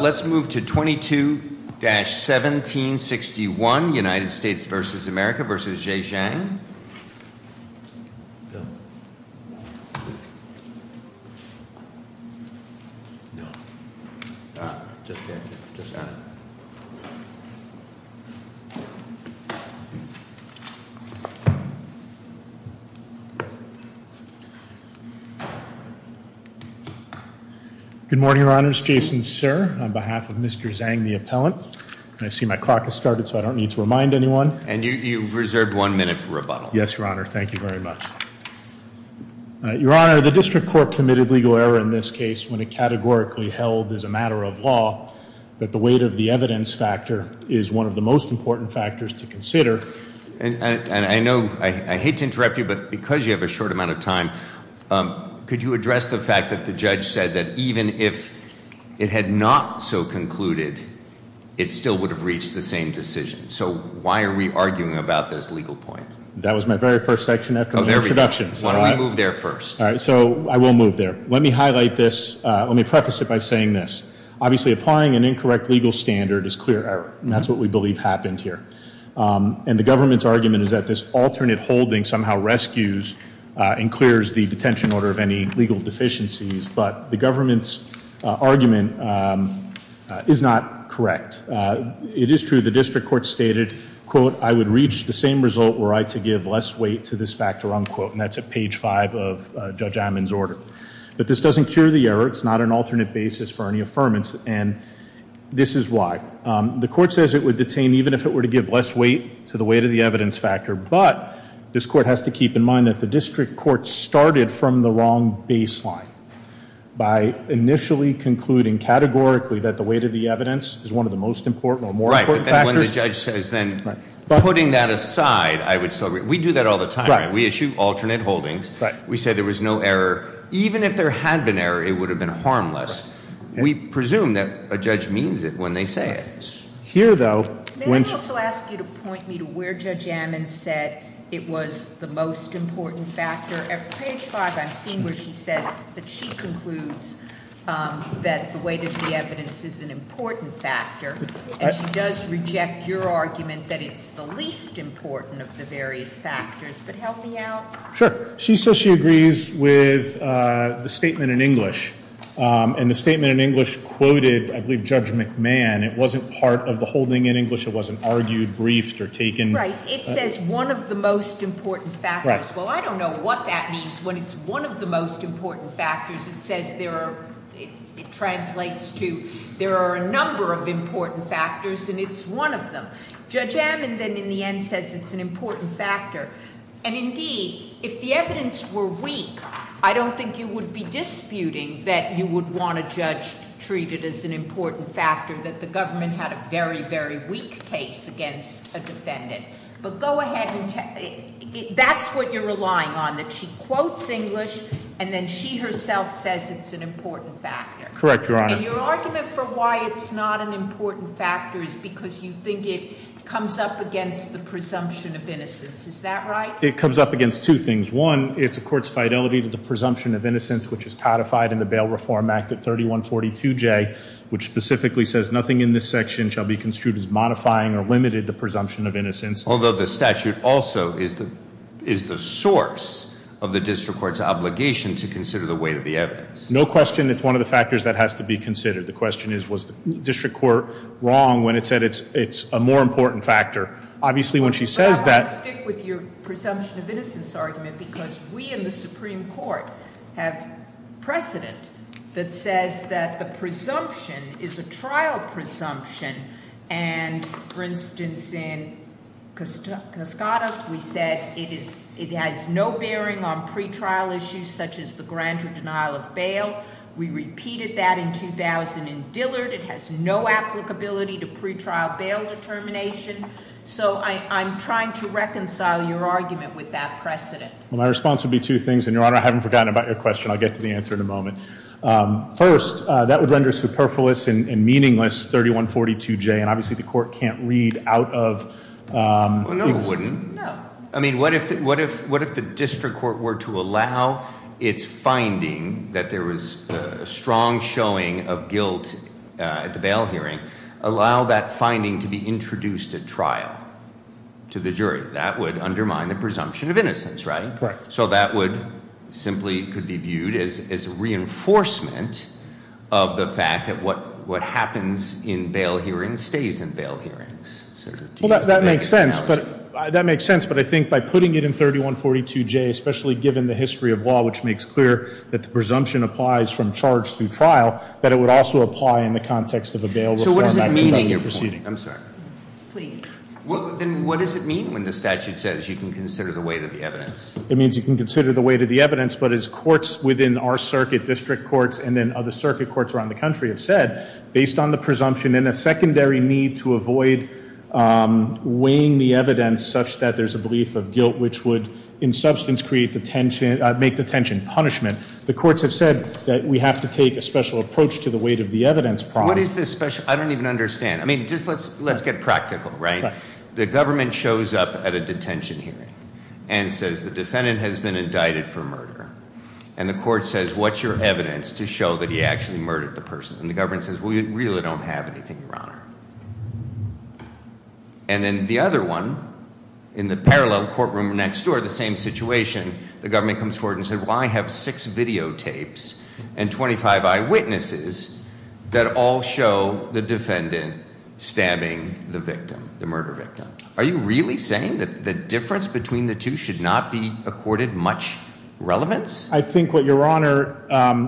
Let's move to 22-1761 United States v. America v. Zhe Zhang. Good morning, your honors. Jason Sir, on behalf of Mr. Zhang, the appellant, I see my clock has started, so I don't need to remind anyone. And you've reserved one minute for rebuttal. Yes, your honor. Thank you very much. Your honor, the district court committed legal error in this case when it categorically held as a matter of law, but the weight of the evidence factor is one of the most important factors to consider. And I know I hate to interrupt you, but because you have a short amount of time, could you address the fact that the judge said that even if it had not so concluded, it still would have reached the same decision? So why are we arguing about this legal point? That was my very first section after my introduction. Why don't we move there first? All right, so I will move there. Let me highlight this. Let me preface it by saying this. Obviously, applying an incorrect legal standard is clear error, and that's what we believe happened here. And the government's argument is that this alternate holding somehow rescues and clears the detention order of any legal deficiencies, but the government's argument is not correct. It is true the district court stated, quote, I would reach the same result were I to give less weight to this factor, unquote, and that's at page five of Judge Ammon's order. But this doesn't cure the error. It's not an alternate basis for any affirmance, and this is why. The court says it would detain even if it were to give less weight to the weight of the evidence factor, but this court has to keep in mind that the district court started from the wrong baseline by initially concluding categorically that the weight of the evidence is one of the most important or more important factors. Right, but then when the judge says then putting that aside, I would still agree. We do that all the time, right? We issue alternate holdings. We say there was no error. Even if there had been error, it would have been harmless. We presume that a judge means it when they say it. May I also ask you to point me to where Judge Ammon said it was the most important factor? At page five, I've seen where she says that she concludes that the weight of the evidence is an important factor, and she does reject your argument that it's the least important of the various factors, but help me out. Sure. She says she agrees with the statement in English, and the statement in English quoted, I believe, Judge McMahon. It wasn't part of the holding in English. It wasn't argued, briefed, or taken. Right. It says one of the most important factors. Right. Well, I don't know what that means when it's one of the most important factors. It says there are, it translates to there are a number of important factors, and it's one of them. Judge Ammon then in the end says it's an important factor, and indeed, if the evidence were weak, I don't think you would be disputing that you would want a judge to treat it as an important factor, that the government had a very, very weak case against a defendant. But go ahead and, that's what you're relying on, that she quotes English, and then she herself says it's an important factor. Correct, Your Honor. And your argument for why it's not an important factor is because you think it comes up against the presumption of innocence. Is that right? It comes up against two things. One, it's a court's fidelity to the presumption of innocence, which is codified in the Bail Reform Act at 3142J, which specifically says nothing in this section shall be construed as modifying or limited the presumption of innocence. Although the statute also is the source of the district court's obligation to consider the weight of the evidence. No question, it's one of the factors that has to be considered. The question is, was the district court wrong when it said it's a more important factor? Obviously, when she says that- Because we in the Supreme Court have precedent that says that the presumption is a trial presumption. And for instance, in Cascadas, we said it has no bearing on pretrial issues such as the grander denial of bail. We repeated that in 2000 in Dillard. It has no applicability to pretrial bail determination. So I'm trying to reconcile your argument with that precedent. Well, my response would be two things. And, Your Honor, I haven't forgotten about your question. I'll get to the answer in a moment. First, that would render superfluous and meaningless 3142J. And obviously, the court can't read out of- No, it wouldn't. No. I mean, what if the district court were to allow its finding that there was a strong showing of guilt at the bail hearing, allow that finding to be introduced at trial to the jury? That would undermine the presumption of innocence, right? Right. So that would simply could be viewed as reinforcement of the fact that what happens in bail hearings stays in bail hearings. Well, that makes sense. But I think by putting it in 3142J, especially given the history of law, which makes clear that the presumption applies from charge through trial, that it would also apply in the context of a bail reform. So what does it mean in your proceeding? I'm sorry. Please. Then what does it mean when the statute says you can consider the weight of the evidence? It means you can consider the weight of the evidence. But as courts within our circuit, district courts, and then other circuit courts around the country have said, based on the presumption and a secondary need to avoid weighing the evidence such that there's a belief of guilt, which would in substance create detention, make detention punishment. The courts have said that we have to take a special approach to the weight of the evidence problem. What is this special? I don't even understand. I mean, just let's get practical, right? The government shows up at a detention hearing and says the defendant has been indicted for murder. And the court says, what's your evidence to show that he actually murdered the person? And the government says, we really don't have anything, Your Honor. And then the other one, in the parallel courtroom next door, the same situation, the government comes forward and says, well, I have six videotapes and 25 eyewitnesses that all show the defendant stabbing the victim, the murder victim. Are you really saying that the difference between the two should not be accorded much relevance? I think what Your Honor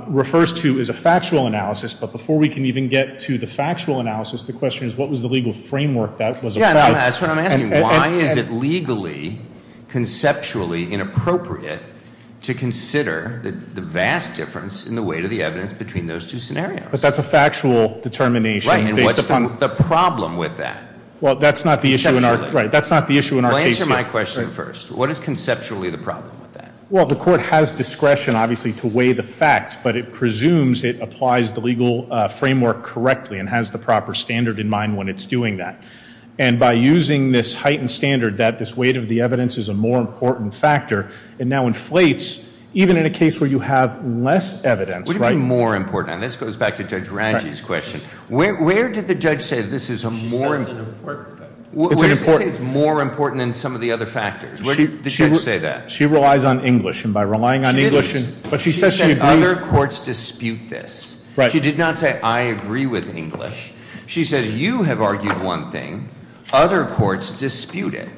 refers to is a factual analysis. But before we can even get to the factual analysis, the question is, what was the legal framework that was applied? That's what I'm asking. Why is it legally, conceptually inappropriate to consider the vast difference in the weight of the evidence between those two scenarios? But that's a factual determination. Right. And what's the problem with that? Well, that's not the issue in our case. Well, answer my question first. What is conceptually the problem with that? Well, the court has discretion, obviously, to weigh the facts, but it presumes it applies the legal framework correctly and has the proper standard in mind when it's doing that. And by using this heightened standard that this weight of the evidence is a more important factor, it now inflates even in a case where you have less evidence. What do you mean more important? And this goes back to Judge Ranji's question. Where did the judge say this is a more important factor? She said it's an important factor. It's an important factor. Where did she say it's more important than some of the other factors? Where did the judge say that? She relies on English. And by relying on English, but she says she agrees. She said other courts dispute this. Right. She did not say I agree with English. She says you have argued one thing. Other courts dispute it.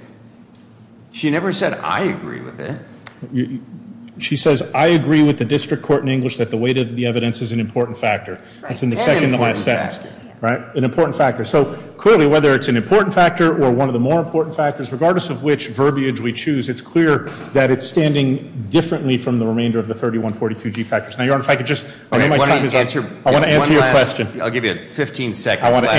She never said I agree with it. She says I agree with the district court in English that the weight of the evidence is an important factor. That's in the second to last sentence. Right. An important factor. Right. An important factor. So, clearly, whether it's an important factor or one of the more important factors, regardless of which verbiage we choose, it's clear that it's standing differently from the remainder of the 3142G factors. Now, Your Honor, if I could just end my time. I want to answer your question. I'll give you 15 seconds. I want to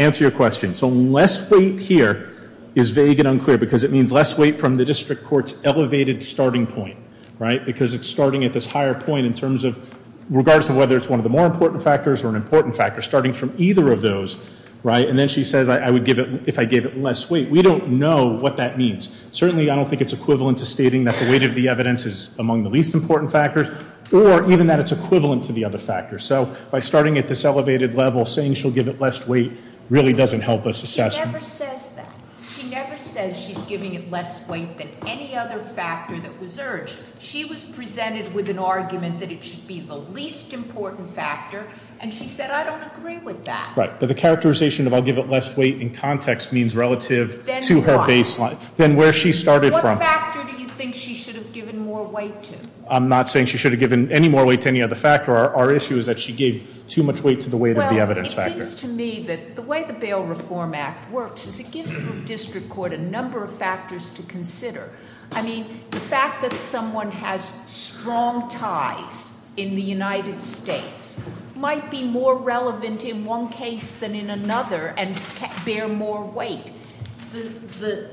answer your question. So less weight here is vague and unclear because it means less weight from the district court's elevated starting point. Right. Because it's starting at this higher point in terms of regardless of whether it's one of the more important factors or an important factor, starting from either of those. Right. And then she says I would give it if I gave it less weight. We don't know what that means. Certainly, I don't think it's equivalent to stating that the weight of the evidence is among the least important factors or even that it's equivalent to the other factors. So by starting at this elevated level, saying she'll give it less weight really doesn't help us assess. She never says that. She never says she's giving it less weight than any other factor that was urged. She was presented with an argument that it should be the least important factor, and she said I don't agree with that. Right. But the characterization of I'll give it less weight in context means relative to her baseline. Then where she started from. What factor do you think she should have given more weight to? I'm not saying she should have given any more weight to any other factor. Our issue is that she gave too much weight to the weight of the evidence factor. Well, it seems to me that the way the Bail Reform Act works is it gives the district court a number of factors to consider. I mean, the fact that someone has strong ties in the United States might be more relevant in one case than in another and bear more weight. The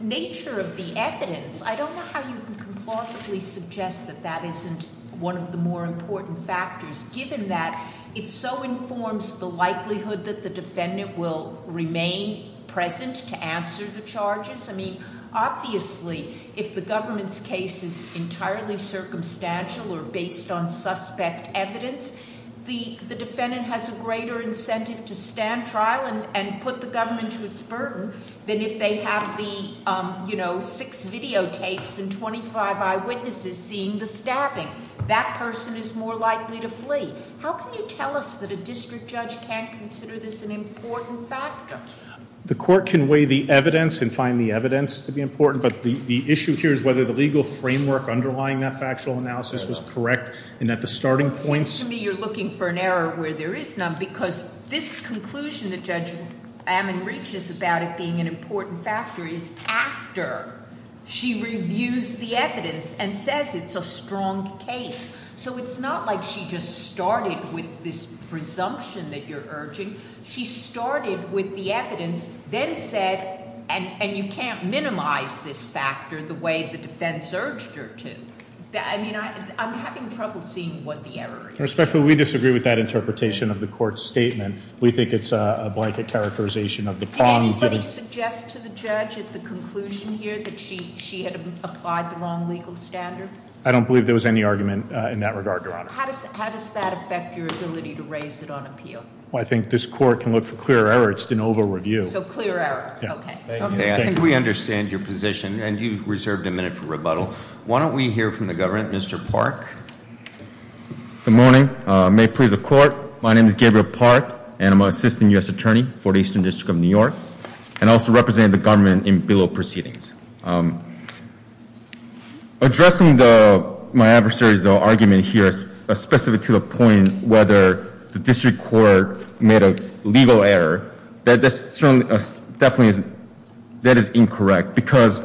nature of the evidence, I don't know how you can complicitly suggest that that isn't one of the more important factors, given that it so informs the likelihood that the defendant will remain present to answer the charges. I mean, obviously, if the government's case is entirely circumstantial or based on suspect evidence, the defendant has a greater incentive to stand trial and put the government to its burden than if they have the six videotapes and 25 eyewitnesses seeing the stabbing. That person is more likely to flee. How can you tell us that a district judge can't consider this an important factor? The court can weigh the evidence and find the evidence to be important, but the issue here is whether the legal framework underlying that factual analysis was correct and at the starting point. It seems to me you're looking for an error where there is none, because this conclusion that Judge Ammon reaches about it being an important factor is after she reviews the evidence and says it's a strong case. So it's not like she just started with this presumption that you're urging. She started with the evidence, then said, and you can't minimize this factor the way the defense urged her to. I mean, I'm having trouble seeing what the error is. Your Honor, respectfully, we disagree with that interpretation of the court's statement. We think it's a blanket characterization of the problem. Did anybody suggest to the judge at the conclusion here that she had applied the wrong legal standard? I don't believe there was any argument in that regard, Your Honor. How does that affect your ability to raise it on appeal? Well, I think this court can look for clear error. It's an over-review. So clear error. Okay. Okay, I think we understand your position, and you've reserved a minute for rebuttal. Why don't we hear from the government? Mr. Park? Good morning. May it please the Court, my name is Gabriel Park, and I'm an assistant U.S. attorney for the Eastern District of New York, and I also represent the government in bill proceedings. Addressing my adversary's argument here specific to the point whether the district court made a legal error, that is incorrect because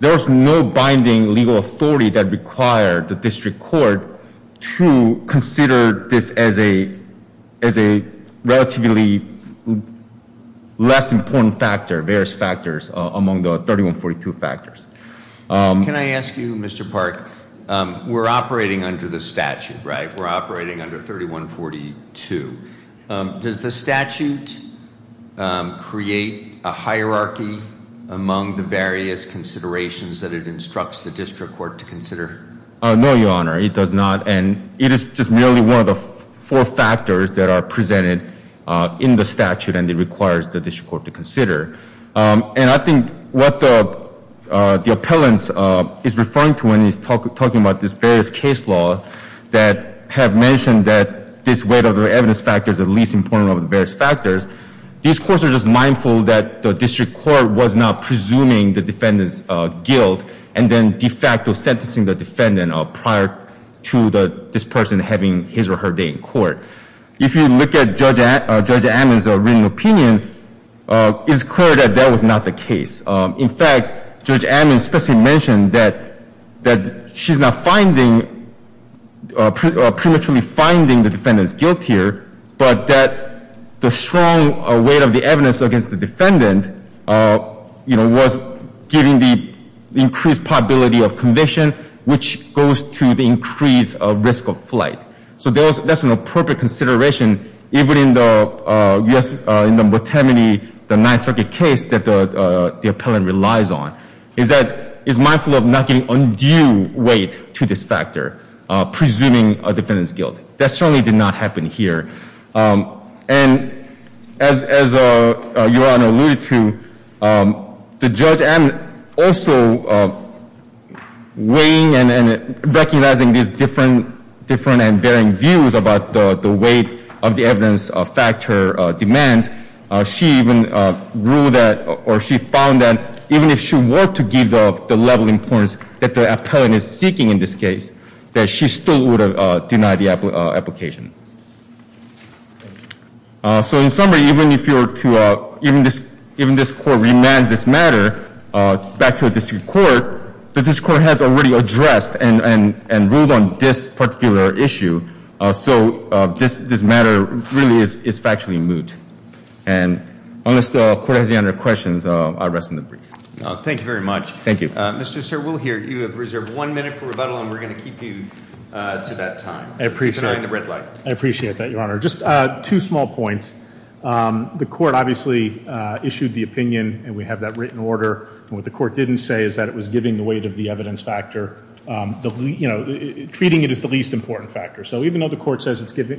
there is no binding legal authority that required the district court to consider this as a relatively less important factor, various factors among the 3142 factors. Can I ask you, Mr. Park, we're operating under the statute, right? We're operating under 3142. Does the statute create a hierarchy among the various considerations that it instructs the district court to consider? No, Your Honor, it does not, and it is just merely one of the four factors that are presented in the statute, and it requires the district court to consider. And I think what the appellant is referring to when he's talking about this various case law that have mentioned that this weight of the evidence factor is the least important of the various factors, these courts are just mindful that the district court was not presuming the defendant's guilt and then de facto sentencing the defendant prior to this person having his or her day in court. If you look at Judge Ammon's written opinion, it's clear that that was not the case. In fact, Judge Ammon specifically mentioned that she's not finding, prematurely finding the defendant's guilt here, but that the strong weight of the evidence against the defendant, you know, was giving the increased probability of conviction, which goes to the increased risk of flight. So that's an appropriate consideration, even in the Botemini, the Ninth Circuit case that the appellant relies on, is that, is mindful of not giving undue weight to this factor, presuming a defendant's guilt. That certainly did not happen here. And as Your Honor alluded to, the Judge Ammon also weighing and recognizing these different and varying views about the weight of the evidence factor demands, she even ruled that, or she found that, even if she were to give the level of importance that the appellant is seeking in this case, that she still would have denied the application. So in summary, even if you were to, even this court reminds this matter back to the district court, the district court has already addressed and ruled on this particular issue. So this matter really is factually moot. And unless the court has any other questions, I'll rest on the brief. Thank you very much. Thank you. Mr. Sirwill here, you have reserved one minute for rebuttal, and we're going to keep you to that time. I appreciate that, Your Honor. Just two small points. The court obviously issued the opinion, and we have that written order. What the court didn't say is that it was giving the weight of the evidence factor, treating it as the least important factor. So even though the court says if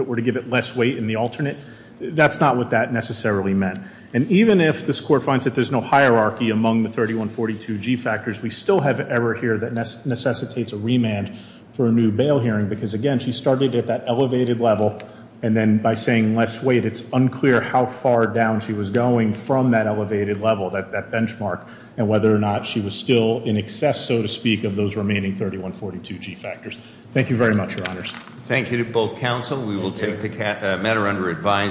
it were to give it less weight in the alternate, that's not what that necessarily meant. And even if this court finds that there's no hierarchy among the 3142G factors, we still have error here that necessitates a remand for a new bail hearing because, again, she started at that elevated level, and then by saying less weight, it's unclear how far down she was going from that elevated level, that benchmark, and whether or not she was still in excess, so to speak, of those remaining 3142G factors. Thank you very much, Your Honors. Thank you to both counsel. We will take the matter under advisement.